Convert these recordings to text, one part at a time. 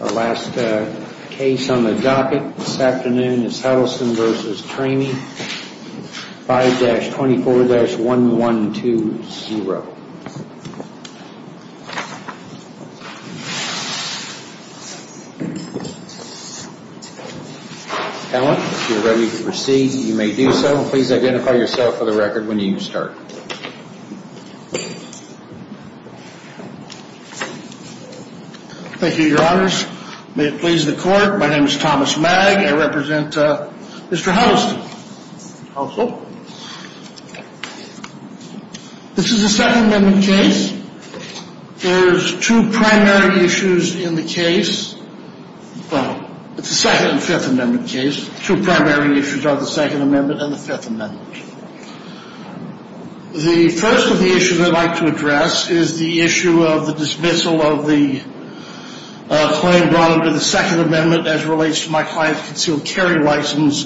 Our last case on the docket this afternoon is Huddleston v. Trame, 5-24-1120. Alan, if you're ready to proceed, you may do so. Please identify yourself for the record when you start. Thank you, your honors. May it please the court, my name is Thomas Magg. I represent Mr. Huddleston. This is a Second Amendment case. There's two primary issues in the case. It's a Second and Fifth Amendment case. Two primary issues are the Second Amendment and the Fifth Amendment. The first of the issues I'd like to address is the issue of the dismissal of the claim brought under the Second Amendment as it relates to my client's concealed carry license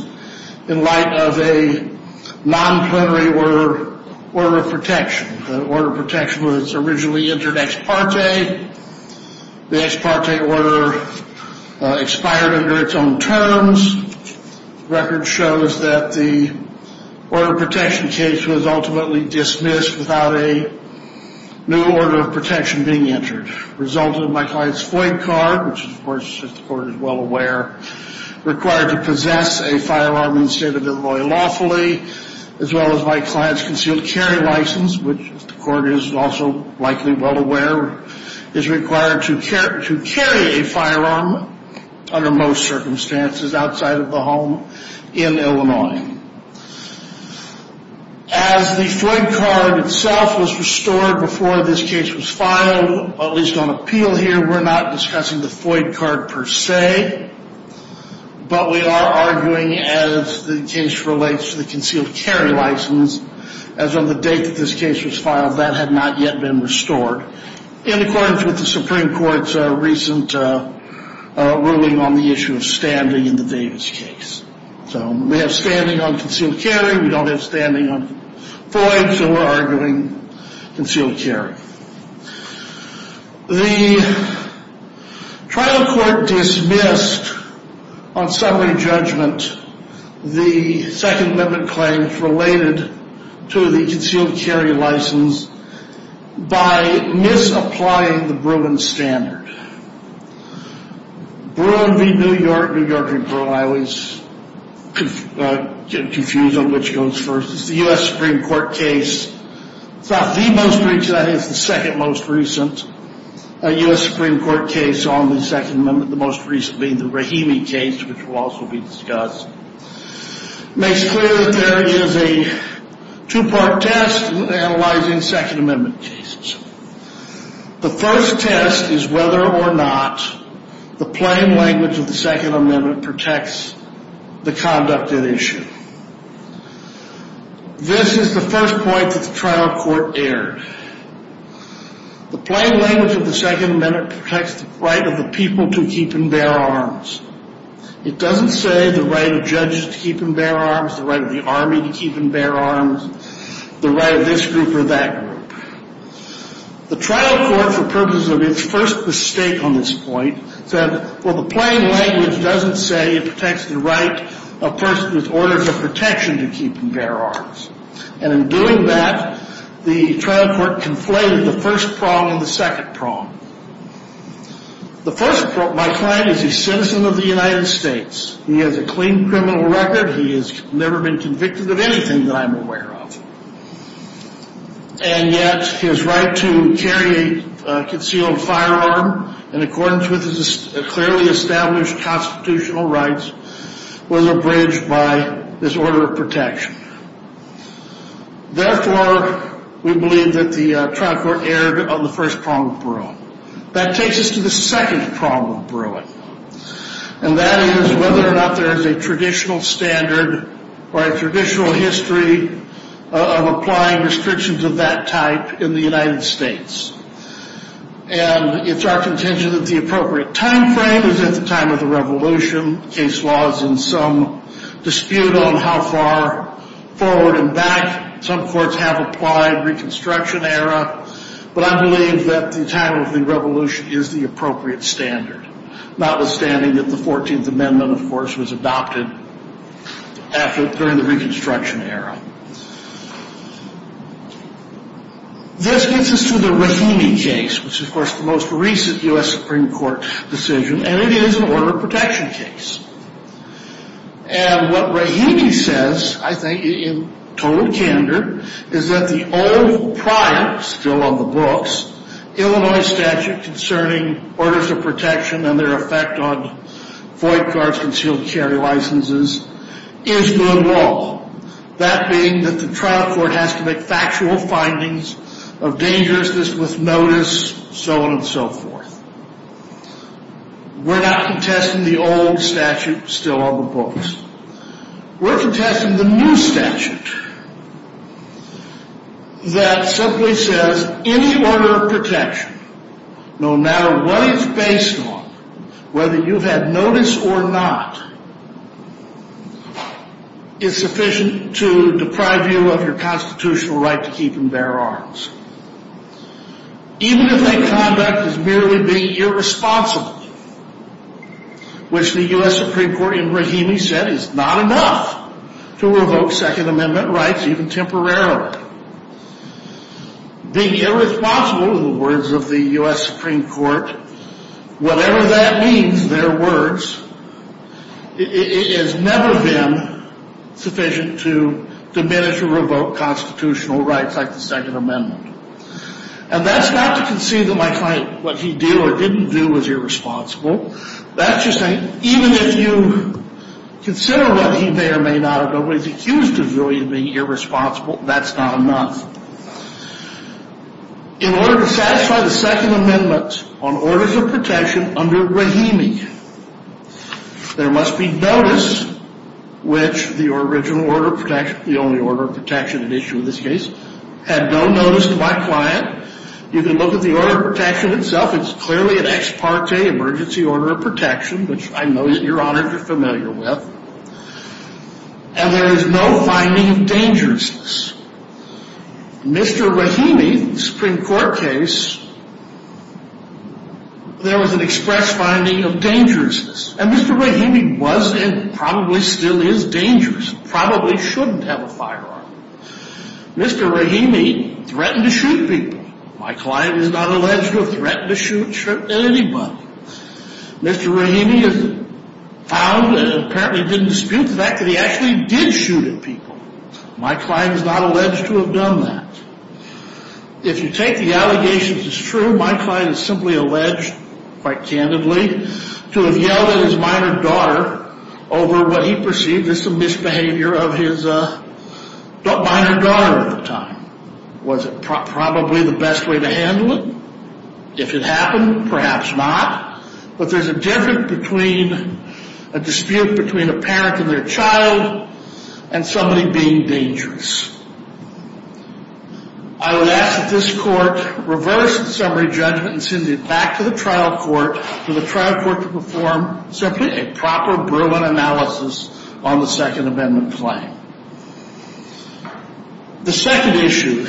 in light of a non-plenary order of protection. The order of protection was originally entered ex parte. The ex parte order expired under its own terms. The record shows that the order of protection case was ultimately dismissed without a new order of protection being entered. The result of my client's FOIA card, which of course the court is well aware, required to possess a firearm in the state of Illinois lawfully, as well as my client's concealed carry license, which the court is also likely well aware, is required to carry a firearm under most circumstances outside of the home in Illinois. As the FOIA card itself was restored before this case was filed, at least on appeal here, we're not discussing the FOIA card per se, but we are arguing as the case relates to the concealed carry license, as on the date that this case was filed, that had not yet been restored, in accordance with the Supreme Court's recent ruling on the issue of standing in the Davis case. So we have standing on concealed carry, we don't have standing on FOIA, so we're arguing concealed carry. The trial court dismissed, on summary judgment, the Second Amendment claims related to the concealed carry license by misapplying the Bruin standard. Bruin v. New York, New York v. Bruin, I always get confused on which goes first. It's the U.S. Supreme Court case, it's not the most recent, I think it's the second most recent U.S. Supreme Court case on the Second Amendment, the most recent being the Rahimi case, which will also be discussed. It makes clear that there is a two-part test analyzing Second Amendment cases. The first test is whether or not the plain language of the Second Amendment protects the conduct at issue. This is the first point that the trial court aired. The plain language of the Second Amendment protects the right of the people to keep and bear arms. It doesn't say the right of judges to keep and bear arms, the right of the Army to keep and bear arms, the right of this group or that group. The trial court, for purposes of its first mistake on this point, said, well, the plain language doesn't say it protects the right of persons with orders of protection to keep and bear arms. And in doing that, the trial court conflated the first prong and the second prong. The first prong, my client is a citizen of the United States. He has a clean criminal record. He has never been convicted of anything that I'm aware of. And yet his right to carry a concealed firearm in accordance with his clearly established constitutional rights was abridged by this order of protection. Therefore, we believe that the trial court aired on the first prong of Bruin. That takes us to the second prong of Bruin. And that is whether or not there is a traditional standard or a traditional history of applying restrictions of that type in the United States. And it's our contention that the appropriate time frame is at the time of the revolution. Case law is in some dispute on how far forward and back. Some courts have applied Reconstruction era. But I believe that the time of the revolution is the appropriate standard. Notwithstanding that the 14th Amendment, of course, was adopted during the Reconstruction era. This gets us to the Rahimi case, which is, of course, the most recent U.S. Supreme Court decision. And it is an order of protection case. And what Rahimi says, I think, in total candor, is that the old prior, still on the books, Illinois statute concerning orders of protection and their effect on void cards, concealed carry licenses, is good law. That being that the trial court has to make factual findings of dangerousness with notice, so on and so forth. We're not contesting the old statute, still on the books. We're contesting the new statute that simply says any order of protection, no matter what it's based on, whether you've had notice or not, is sufficient to deprive you of your constitutional right to keep and bear arms. Even if that conduct is merely being irresponsible, which the U.S. Supreme Court in Rahimi said is not enough to revoke Second Amendment rights, even temporarily. Being irresponsible, in the words of the U.S. Supreme Court, whatever that means, their words, it has never been sufficient to diminish or revoke constitutional rights like the Second Amendment. And that's not to concede that my client, what he did or didn't do, was irresponsible. That's just saying, even if you consider what he may or may not have done, what he's accused of doing is being irresponsible. That's not enough. In order to satisfy the Second Amendment on orders of protection under Rahimi, there must be notice which the original order of protection, the only order of protection at issue in this case, had no notice to my client. You can look at the order of protection itself. It's clearly an ex parte emergency order of protection, which I know that Your Honors are familiar with. And there is no finding of dangerousness. In Mr. Rahimi's Supreme Court case, there was an express finding of dangerousness. And Mr. Rahimi was and probably still is dangerous, probably shouldn't have a firearm. Mr. Rahimi threatened to shoot people. My client is not alleged to have threatened to shoot anybody. Mr. Rahimi is found and apparently didn't dispute the fact that he actually did shoot at people. My client is not alleged to have done that. If you take the allegations as true, my client is simply alleged, quite candidly, to have yelled at his minor daughter over what he perceived as some misbehavior of his minor daughter at the time. Was it probably the best way to handle it? If it happened, perhaps not. But there's a dispute between a parent and their child and somebody being dangerous. I would ask that this Court reverse the summary judgment and send it back to the trial court for the trial court to perform simply a proper, brilliant analysis on the Second Amendment claim. The second issue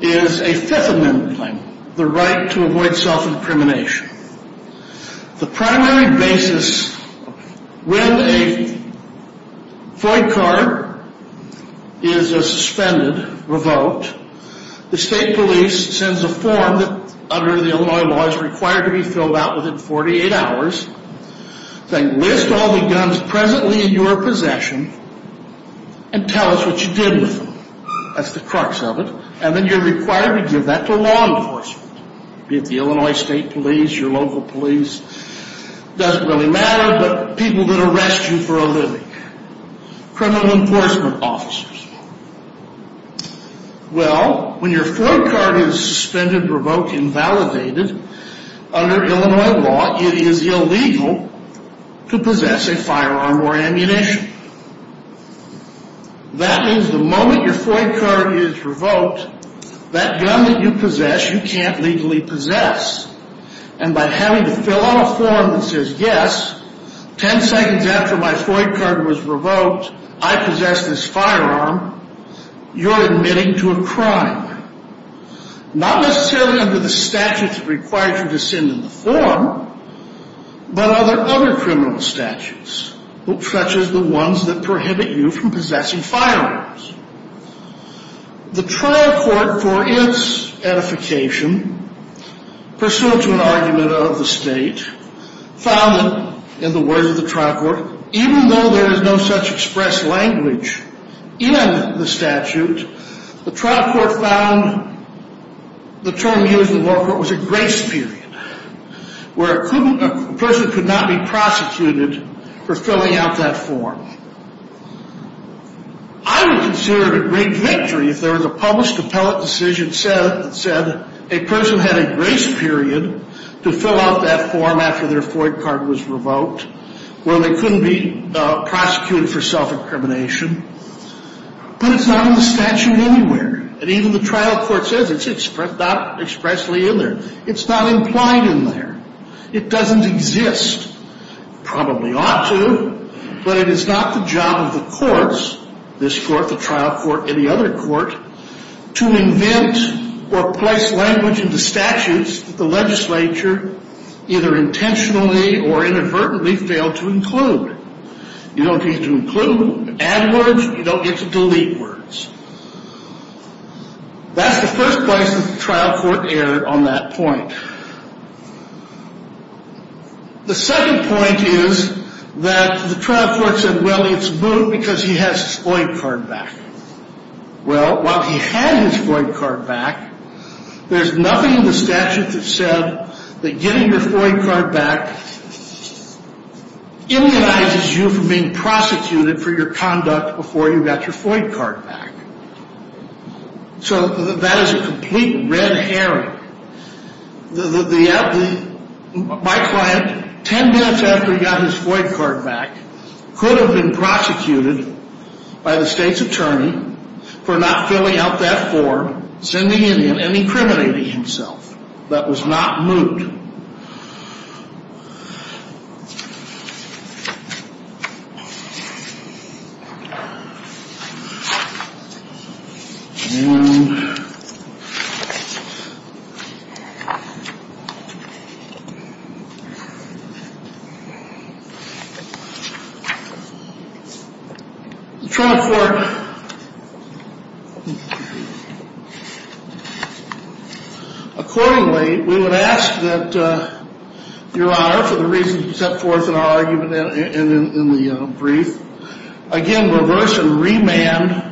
is a Fifth Amendment claim, the right to avoid self-incrimination. The primary basis, when a void card is suspended, revoked, the state police sends a form that under the Illinois law is required to be filled out within 48 hours They list all the guns presently in your possession and tell us what you did with them. That's the crux of it. And then you're required to give that to law enforcement. Be it the Illinois State Police, your local police. Doesn't really matter, but people that arrest you for a living. Criminal enforcement officers. Well, when your void card is suspended, revoked, invalidated, under Illinois law, it is illegal to possess a firearm or ammunition. That means the moment your void card is revoked, that gun that you possess, you can't legally possess. And by having to fill out a form that says, yes, 10 seconds after my void card was revoked, I possess this firearm, you're admitting to a crime. Not necessarily under the statutes that require you to send in the form, but other criminal statutes, such as the ones that prohibit you from possessing firearms. The trial court, for its edification, pursuant to an argument of the state, found that, in the words of the trial court, even though there is no such expressed language in the statute, the trial court found the term used in the law court was a grace period, where a person could not be prosecuted for filling out that form. I would consider it a great victory if there was a published appellate decision that said a person had a grace period to fill out that form after their void card was revoked, where they couldn't be prosecuted for self-incrimination. But it's not in the statute anywhere. And even the trial court says it's not expressly in there. It's not implied in there. It doesn't exist. It probably ought to, but it is not the job of the courts, this court, the trial court, any other court, to invent or place language into statutes that the legislature either intentionally or inadvertently failed to include. You don't get to include. You add words. You don't get to delete words. That's the first place that the trial court erred on that point. The second point is that the trial court said, well, it's moot because he has his void card back. Well, while he had his void card back, there's nothing in the statute that said that getting your void card back immunizes you from being prosecuted for your conduct before you got your void card back. So that is a complete red herring. My client, 10 minutes after he got his void card back, could have been prosecuted by the state's attorney for not filling out that form, sending it in, and incriminating himself. That was not moot. And the trial court, accordingly, we would ask that Your Honor, for the reasons you set forth in our argument in the brief, again, reverse and remand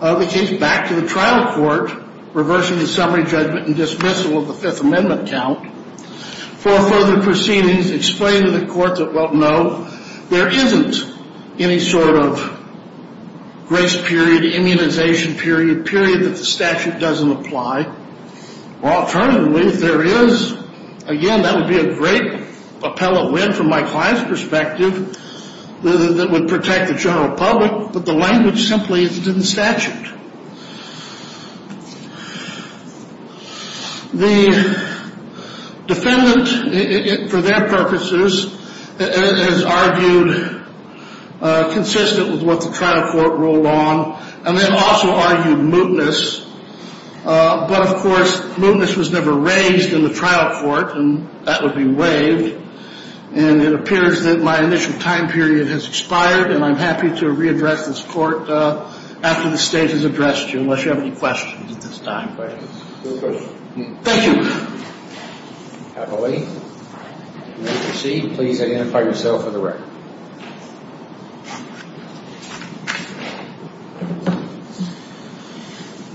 the case back to the trial court, reversing the summary judgment and dismissal of the Fifth Amendment count. For further proceedings, explain to the court that, well, no, there isn't any sort of grace period, immunization period, period that the statute doesn't apply. Well, alternatively, if there is, again, that would be a great appellate win from my client's perspective that would protect the general public, but the language simply isn't in the statute. The defendant, for their purposes, has argued consistent with what the trial court ruled on, and then also argued mootness. But, of course, mootness was never raised in the trial court, and that would be waived. And it appears that my initial time period has expired, and I'm happy to readdress this court after the state has addressed you, unless you have any questions at this time. Thank you. Appellate, you may proceed. Please identify yourself for the record.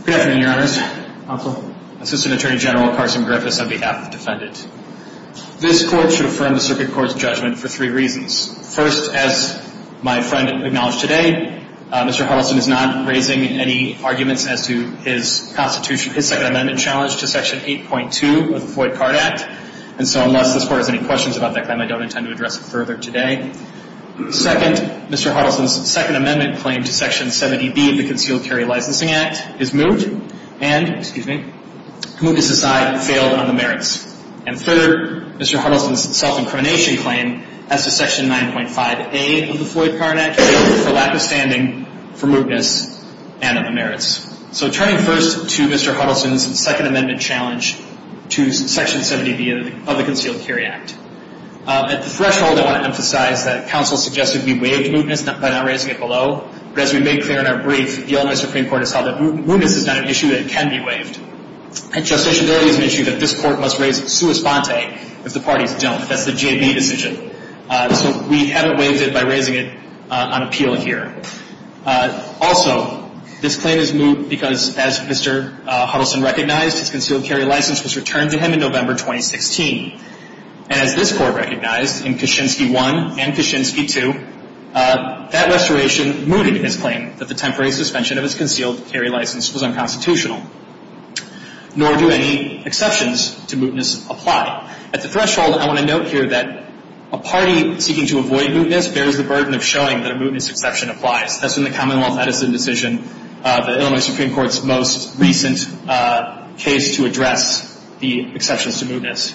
Good afternoon, Your Honors. Counsel. Assistant Attorney General Carson Griffiths on behalf of the defendant. This court should affirm the circuit court's judgment for three reasons. First, as my friend acknowledged today, Mr. Huddleston is not raising any arguments as to his Second Amendment challenge to Section 8.2 of the Floyd-Carr Act, and so unless this court has any questions about that claim, I don't intend to address it further today. Second, Mr. Huddleston's Second Amendment claim to Section 70B of the Concealed Carry Licensing Act is moot, and, excuse me, mootness aside, failed on the merits. And third, Mr. Huddleston's self-incrimination claim as to Section 9.5A of the Floyd-Carr Act failed for lack of standing, for mootness, and on the merits. So turning first to Mr. Huddleston's Second Amendment challenge to Section 70B of the Concealed Carry Act. At the threshold, I want to emphasize that counsel suggested we waive mootness by not raising it below, but as we made clear in our brief, the Illinois Supreme Court has held that mootness is not an issue that can be waived. Justiciability is an issue that this court must raise sua sponte if the parties don't. That's the J.B. decision. So we haven't waived it by raising it on appeal here. Also, this claim is moot because, as Mr. Huddleston recognized, his concealed carry license was returned to him in November 2016. And as this court recognized in Kaczynski 1 and Kaczynski 2, that restoration mooted his claim that the temporary suspension of his concealed carry license was unconstitutional. Nor do any exceptions to mootness apply. At the threshold, I want to note here that a party seeking to avoid mootness bears the burden of showing that a mootness exception applies. That's in the Commonwealth Edison decision, the Illinois Supreme Court's most recent case to address the exceptions to mootness.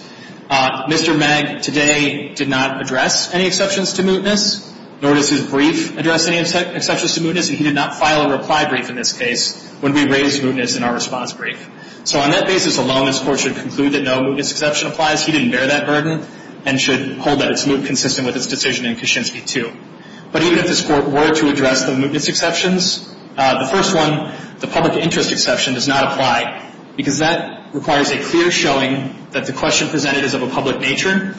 Mr. Magg today did not address any exceptions to mootness, nor does his brief address any exceptions to mootness, and he did not file a reply brief in this case when we raised mootness in our response brief. So on that basis alone, this court should conclude that no mootness exception applies. He didn't bear that burden and should hold that it's moot consistent with his decision in Kaczynski 2. But even if this court were to address the mootness exceptions, the first one, the public interest exception, does not apply, because that requires a clear showing that the question presented is of a public nature,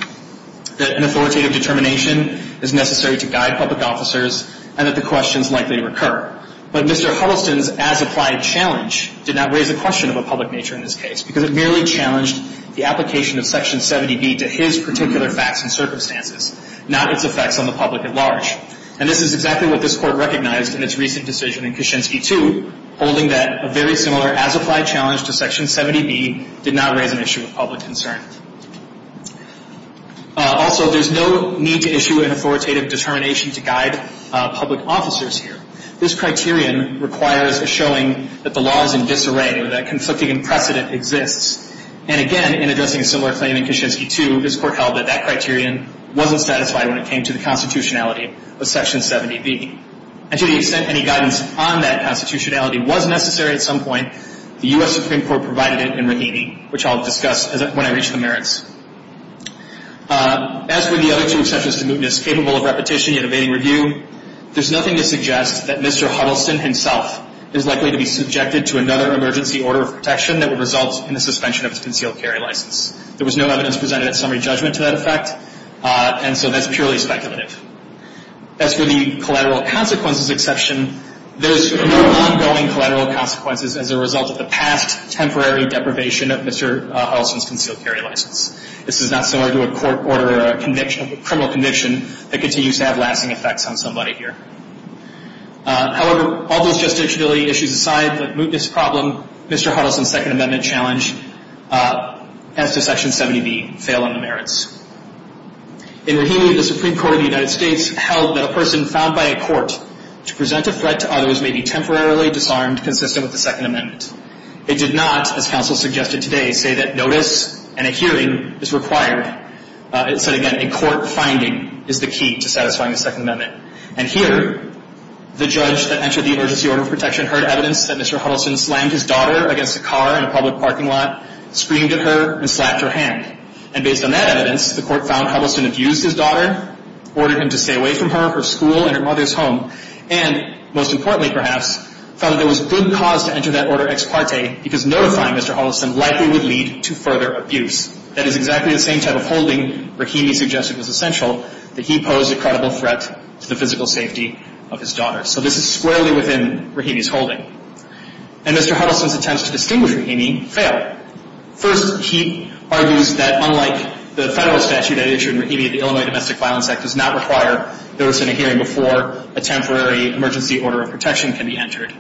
that an authoritative determination is necessary to guide public officers, and that the questions likely recur. But Mr. Huddleston's as-applied challenge did not raise the question of a public nature in this case, because it merely challenged the application of Section 70B to his particular facts and circumstances, not its effects on the public at large. And this is exactly what this court recognized in its recent decision in Kaczynski 2, holding that a very similar as-applied challenge to Section 70B did not raise an issue of public concern. Also, there's no need to issue an authoritative determination to guide public officers here. This criterion requires a showing that the law is in disarray, or that conflicting precedent exists. And again, in addressing a similar claim in Kaczynski 2, this court held that that criterion wasn't satisfied when it came to the constitutionality of Section 70B. And to the extent any guidance on that constitutionality was necessary at some point, the U.S. Supreme Court provided it in Rahimi, which I'll discuss when I reach the merits. As for the other two exceptions to mootness, capable of repetition yet evading review, there's nothing to suggest that Mr. Huddleston himself is likely to be subjected to another emergency order of protection that would result in the suspension of his concealed carry license. There was no evidence presented at summary judgment to that effect, and so that's purely speculative. As for the collateral consequences exception, there's no ongoing collateral consequences as a result of the past temporary deprivation of Mr. Huddleston's concealed carry license. This is not similar to a court order or a criminal conviction that continues to have lasting effects on somebody here. However, all those justiciality issues aside, the mootness problem, Mr. Huddleston's Second Amendment challenge, as to Section 70B, fail on the merits. In Rahimi, the Supreme Court of the United States held that a person found by a court to present a threat to others may be temporarily disarmed consistent with the Second Amendment. It did not, as counsel suggested today, say that notice and a hearing is required. It said, again, a court finding is the key to satisfying the Second Amendment. And here, the judge that entered the emergency order of protection heard evidence that Mr. Huddleston slammed his daughter against a car in a public parking lot, screamed at her, and slapped her hand. And based on that evidence, the court found Huddleston abused his daughter, ordered him to stay away from her, her school, and her mother's home, and most importantly, perhaps, found that there was good cause to enter that order ex parte because notifying Mr. Huddleston likely would lead to further abuse. That is exactly the same type of holding Rahimi suggested was essential, that he posed a credible threat to the physical safety of his daughter. So this is squarely within Rahimi's holding. And Mr. Huddleston's attempts to distinguish Rahimi fail. First, he argues that unlike the federal statute that he issued in Rahimi, the Illinois Domestic Violence Act does not require notice in a hearing before a temporary emergency order of protection can be entered.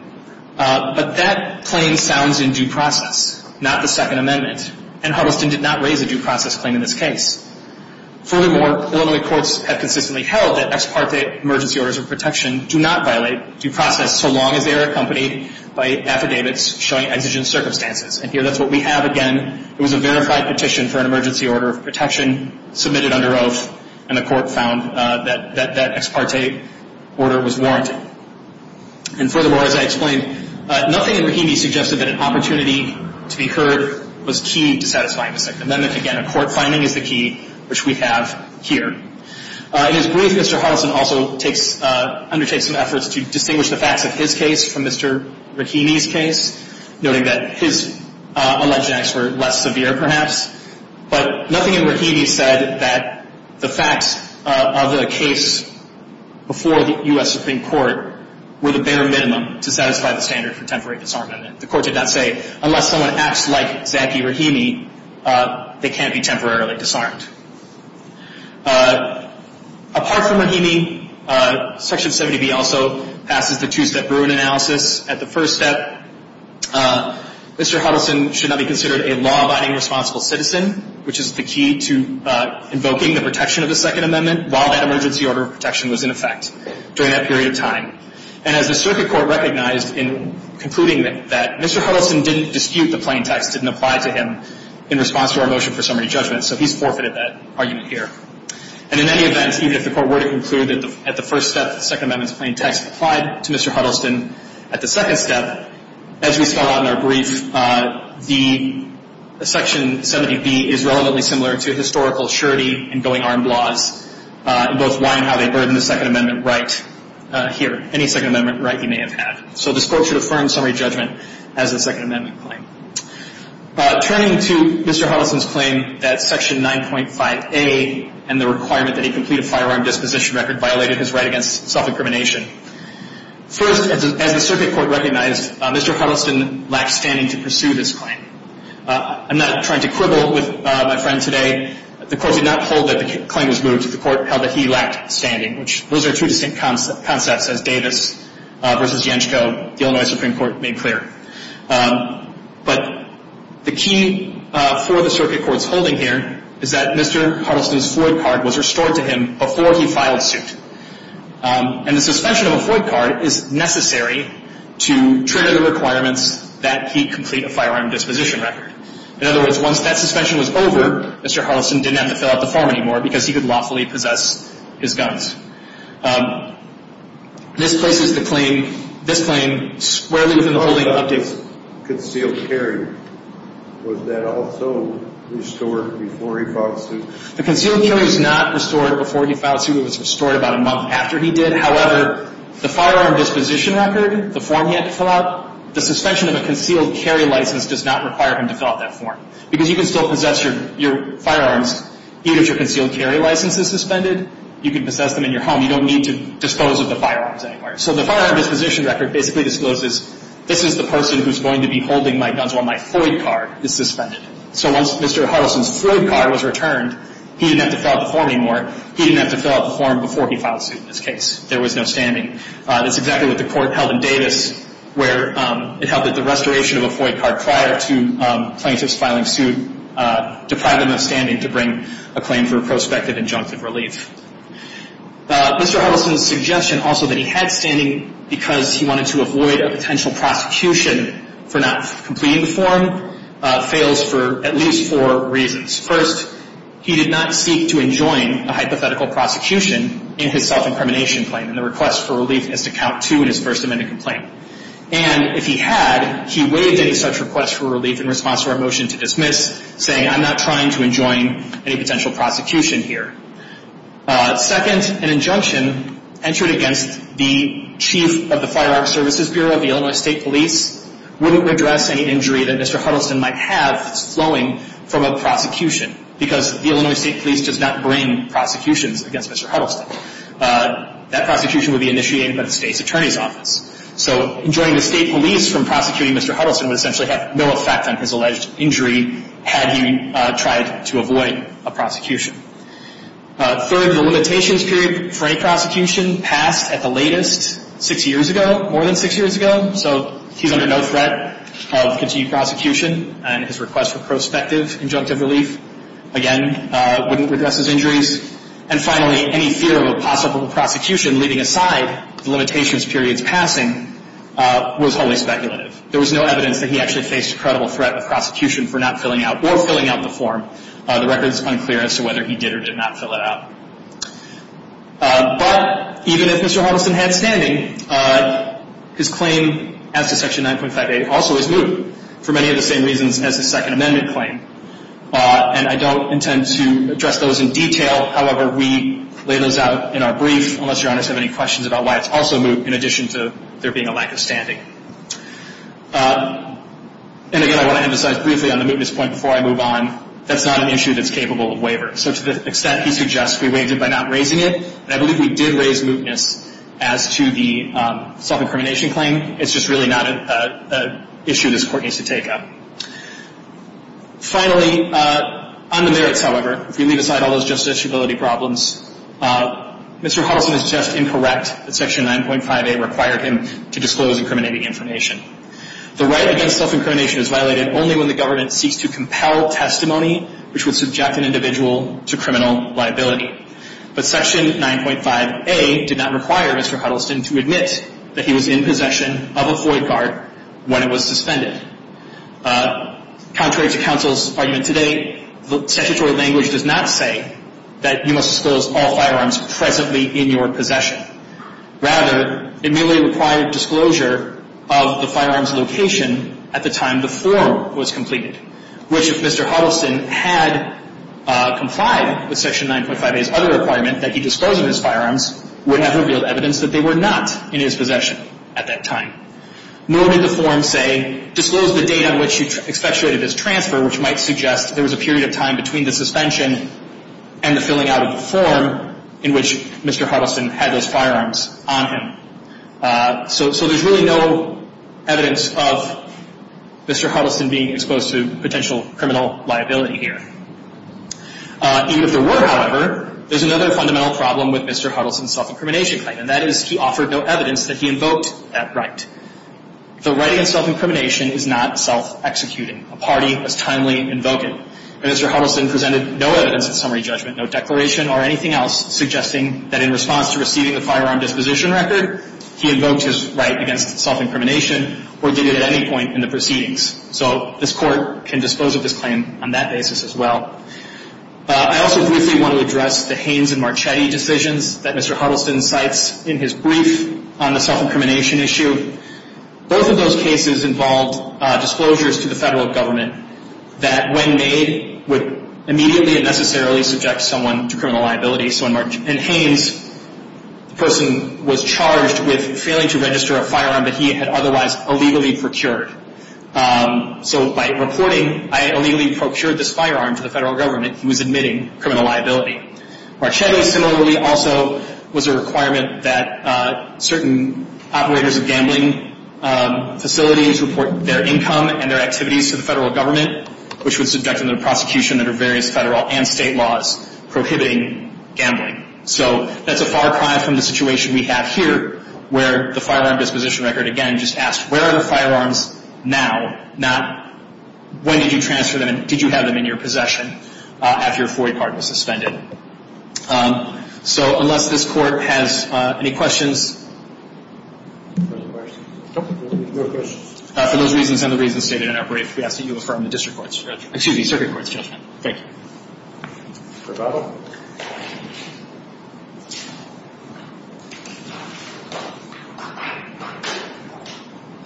But that claim sounds in due process, not the Second Amendment. And Huddleston did not raise a due process claim in this case. Furthermore, Illinois courts have consistently held that ex parte emergency orders of protection do not violate due process so long as they are accompanied by affidavits showing exigent circumstances. And here, that's what we have again. It was a verified petition for an emergency order of protection submitted under oath, and the court found that that ex parte order was warranted. And furthermore, as I explained, nothing in Rahimi suggested that an opportunity to be heard was key to satisfying the Second Amendment. Again, a court finding is the key, which we have here. In his brief, Mr. Huddleston also undertakes some efforts to distinguish the facts of his case from Mr. Rahimi's case, noting that his alleged acts were less severe perhaps. But nothing in Rahimi said that the facts of the case before the U.S. Supreme Court were the bare minimum to satisfy the standard for temporary disarmament. The court did not say, unless someone acts like Zaki Rahimi, they can't be temporarily disarmed. Apart from Rahimi, Section 70B also passes the two-step Bruin analysis. At the first step, Mr. Huddleston should not be considered a law-abiding responsible citizen, which is the key to invoking the protection of the Second Amendment while that emergency order of protection was in effect during that period of time. And as the circuit court recognized in concluding that Mr. Huddleston didn't dispute the plain text, didn't apply to him in response to our motion for summary judgment, so he's forfeited that argument here. And in any event, even if the court were to conclude that at the first step, the Second Amendment's plain text applied to Mr. Huddleston, at the second step, as we spell out in our brief, the Section 70B is relevantly similar to historical surety and going armed laws in both why and how they burden the Second Amendment right here, any Second Amendment right you may have had. So this court should affirm summary judgment as a Second Amendment claim. Turning to Mr. Huddleston's claim that Section 9.5A and the requirement that he complete a firearm disposition record violated his right against self-incrimination, first, as the circuit court recognized, Mr. Huddleston lacked standing to pursue this claim. I'm not trying to quibble with my friend today. The court did not hold that the claim was moved. The court held that he lacked standing, which those are two distinct concepts, as Davis v. Yanchco, the Illinois Supreme Court, made clear. But the key for the circuit court's holding here is that Mr. Huddleston's FOID card was restored to him before he filed suit. And the suspension of a FOID card is necessary to trigger the requirements that he complete a firearm disposition record. In other words, once that suspension was over, Mr. Huddleston didn't have to fill out the form anymore because he could lawfully possess his guns. This places the claim, this claim, squarely within the holding of updates. The concealed carry, was that also restored before he filed suit? The concealed carry was not restored before he filed suit. It was restored about a month after he did. However, the firearm disposition record, the form he had to fill out, the suspension of a concealed carry license does not require him to fill out that form because you can still possess your firearms even if your concealed carry license is suspended. You can possess them in your home. You don't need to dispose of the firearms anywhere. So the firearm disposition record basically discloses, this is the person who's going to be holding my guns while my FOID card is suspended. So once Mr. Huddleston's FOID card was returned, he didn't have to fill out the form anymore. He didn't have to fill out the form before he filed suit in this case. There was no standing. That's exactly what the court held in Davis, where it held that the restoration of a FOID card prior to plaintiff's filing suit deprived him of standing to bring a claim for prospective injunctive relief. Mr. Huddleston's suggestion also that he had standing because he wanted to avoid a potential prosecution for not completing the form, fails for at least four reasons. First, he did not seek to enjoin a hypothetical prosecution in his self-incrimination claim, and the request for relief is to count two in his First Amendment complaint. And if he had, he waived any such request for relief in response to our motion to dismiss, saying I'm not trying to enjoin any potential prosecution here. Second, an injunction entered against the chief of the Firearms Services Bureau, the Illinois State Police, wouldn't redress any injury that Mr. Huddleston might have that's flowing from a prosecution because the Illinois State Police does not bring prosecutions against Mr. Huddleston. That prosecution would be initiated by the state's attorney's office. So enjoining the state police from prosecuting Mr. Huddleston would essentially have no effect on his alleged injury had he tried to avoid a prosecution. Third, the limitations period for any prosecution passed at the latest six years ago, more than six years ago, so he's under no threat of continued prosecution, and his request for prospective injunctive relief, again, wouldn't redress his injuries. And finally, any fear of a possible prosecution, leaving aside the limitations period's passing, was wholly speculative. There was no evidence that he actually faced a credible threat of prosecution for not filling out or filling out the form. The record is unclear as to whether he did or did not fill it out. But even if Mr. Huddleston had standing, his claim as to Section 9.58 also is new for many of the same reasons as the Second Amendment claim. And I don't intend to address those in detail. However, we lay those out in our brief, unless Your Honors have any questions about why it's also moot, in addition to there being a lack of standing. And again, I want to emphasize briefly on the mootness point before I move on. That's not an issue that's capable of waiver. So to the extent he suggests, we waived it by not raising it. And I believe we did raise mootness as to the self-incrimination claim. It's just really not an issue this Court needs to take up. Finally, on the merits, however, if we leave aside all those justiciability problems, Mr. Huddleston is just incorrect that Section 9.58 required him to disclose incriminating information. The right against self-incrimination is violated only when the government seeks to compel testimony which would subject an individual to criminal liability. But Section 9.58 did not require Mr. Huddleston to admit that he was in possession of a FOIA card when it was suspended. Contrary to counsel's argument today, the statutory language does not say that you must disclose all firearms presently in your possession. Rather, it merely required disclosure of the firearms location at the time the form was completed, which if Mr. Huddleston had complied with Section 9.58's other requirement that he disclose his firearms, would have revealed evidence that they were not in his possession at that time. Nor did the form say, disclose the date on which you expectuated his transfer, which might suggest there was a period of time between the suspension and the filling out of the form in which Mr. Huddleston had those firearms on him. So there's really no evidence of Mr. Huddleston being exposed to potential criminal liability here. Even if there were, however, there's another fundamental problem with Mr. Huddleston's self-incrimination claim, and that is he offered no evidence that he invoked that right. The right against self-incrimination is not self-executing. A party is timely invoking. Mr. Huddleston presented no evidence at summary judgment, no declaration or anything else suggesting that in response to receiving the firearm disposition record, he invoked his right against self-incrimination or did it at any point in the proceedings. So this Court can dispose of his claim on that basis as well. I also briefly want to address the Haines and Marchetti decisions that Mr. Huddleston cites in his brief on the self-incrimination issue. Both of those cases involved disclosures to the federal government that when made would immediately and necessarily subject someone to criminal liability. So in Haines, the person was charged with failing to register a firearm that he had otherwise illegally procured. So by reporting, I illegally procured this firearm to the federal government, he was admitting criminal liability. Marchetti similarly also was a requirement that certain operators of gambling facilities report their income and their activities to the federal government, which would subject them to prosecution under various federal and state laws prohibiting gambling. So that's a far cry from the situation we have here where the firearm disposition record, again, just asks, where are the firearms now, not when did you transfer them and did you have them in your possession after your FOIA card was suspended? So unless this court has any questions, for those reasons and the reasons stated in our brief, we ask that you affirm the circuit court's judgment. Thank you.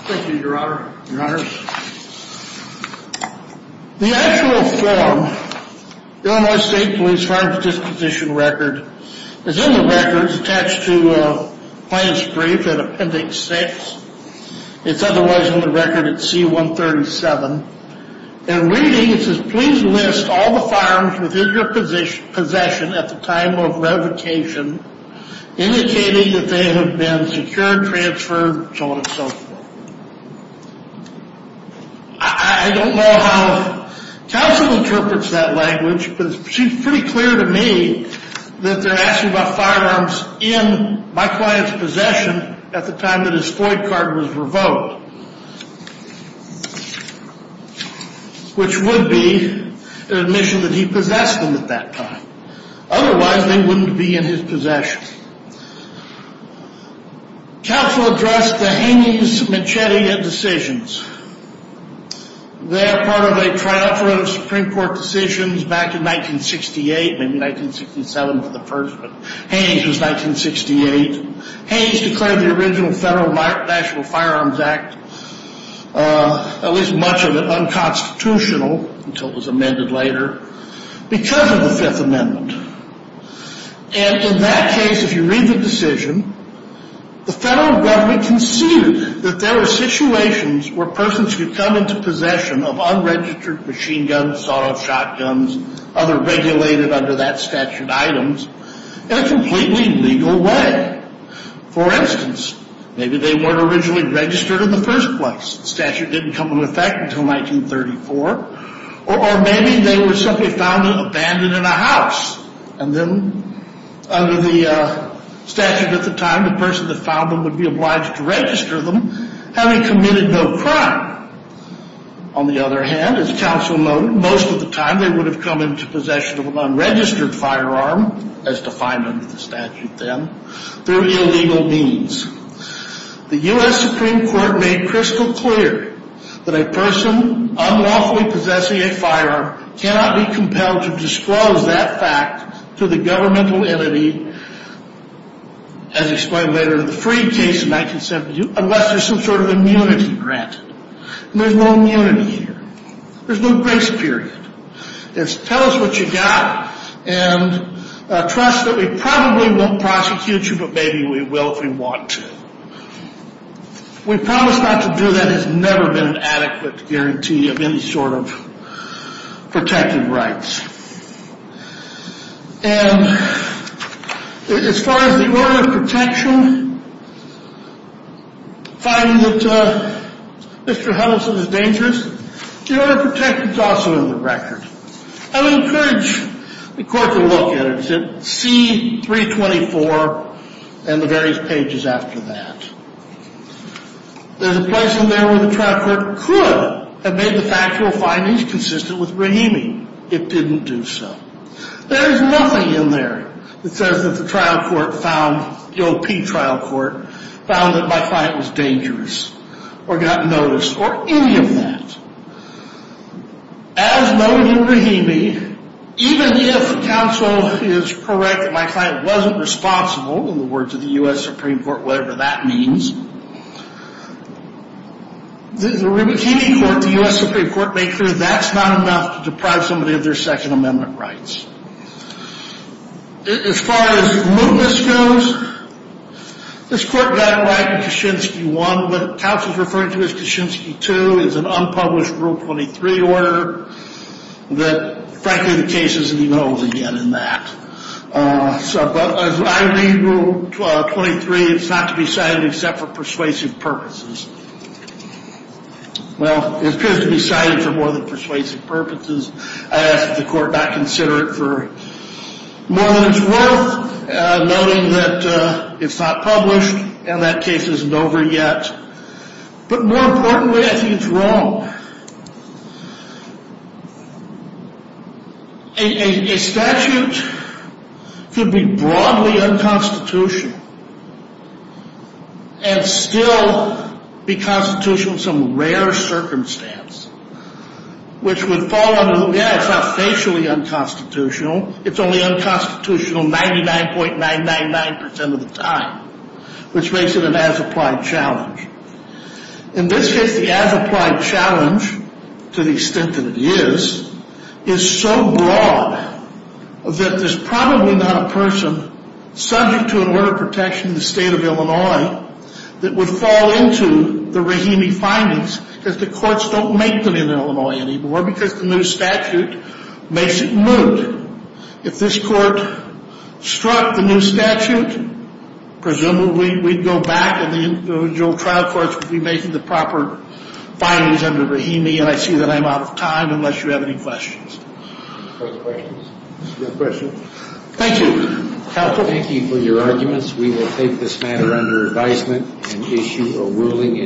Thank you, Your Honor. Your Honor. The actual form, Illinois State Police firearms disposition record, is in the records attached to plaintiff's brief in Appendix 6. It's otherwise in the record at C-137. In reading, it says, please list all the firearms within your possession at the time of revocation, indicating that they have been secured, transferred, so on and so forth. I don't know how counsel interprets that language, but it's pretty clear to me that they're asking about firearms in my client's possession at the time that his FOIA card was revoked, which would be an admission that he possessed them at that time. Otherwise, they wouldn't be in his possession. Counsel addressed the Haynes-Machete indecisions. They're part of a triumvirate of Supreme Court decisions back in 1968, maybe 1967 for the first, but Haynes was 1968. Haynes declared the original Federal National Firearms Act, at least much of it unconstitutional until it was amended later, because of the Fifth Amendment. And in that case, if you read the decision, the federal government conceded that there were situations where persons could come into possession of unregistered machine guns, sawed-off shotguns, other regulated under that statute items, in a completely legal way. For instance, maybe they weren't originally registered in the first place. The statute didn't come into effect until 1934. Or maybe they were simply found abandoned in a house. And then, under the statute at the time, the person that found them would be obliged to register them, having committed no crime. On the other hand, as counsel noted, most of the time they would have come into possession of an unregistered firearm, as defined under the statute then, through illegal means. The U.S. Supreme Court made crystal clear that a person unlawfully possessing a firearm cannot be compelled to disclose that fact to the governmental entity, as explained later in the Freed case in 1972, unless there's some sort of immunity granted. And there's no immunity here. There's no grace period. It's tell us what you got, and trust that we probably won't prosecute you, but maybe we will if we want to. We promise not to do that. There's never been an adequate guarantee of any sort of protected rights. And as far as the order of protection, finding that Mr. Huddleston is dangerous, the order of protection is also in the record. I would encourage the court to look at it. See 324 and the various pages after that. There's a place in there where the trial court could have made the factual findings consistent with Brahimi. It didn't do so. There is nothing in there that says that the trial court found, the OP trial court, found that my client was dangerous, or got noticed, or any of that. As noted in Brahimi, even if counsel is correct that my client wasn't responsible, in the words of the U.S. Supreme Court, whatever that means, the Rubichini court, the U.S. Supreme Court, makes sure that that's not enough to deprive somebody of their Second Amendment rights. As far as mootness goes, this court got it right in Kaczynski 1. What counsel is referring to as Kaczynski 2 is an unpublished Rule 23 order that, frankly, the case isn't even old again in that. But as I read Rule 23, it's not to be cited except for persuasive purposes. Well, it appears to be cited for more than persuasive purposes. I ask that the court not consider it for more than it's worth, noting that it's not published, and that case isn't over yet. But more importantly, I think it's wrong. A statute could be broadly unconstitutional and still be constitutional in some rare circumstance, which would fall under, yeah, it's not facially unconstitutional, it's only unconstitutional 99.999% of the time, which makes it an as-applied challenge. In this case, the as-applied challenge, to the extent that it is, is so broad that there's probably not a person subject to an order of protection in the state of Illinois that would fall into the Rahimi findings because the courts don't make them in Illinois anymore because the new statute makes it moot. If this court struck the new statute, presumably we'd go back and the individual trial courts would be making the proper findings under Rahimi, and I see that I'm out of time unless you have any questions. Any further questions? No questions. Thank you. Counsel. Thank you for your arguments. We will take this matter under advisement and issue a ruling in due course.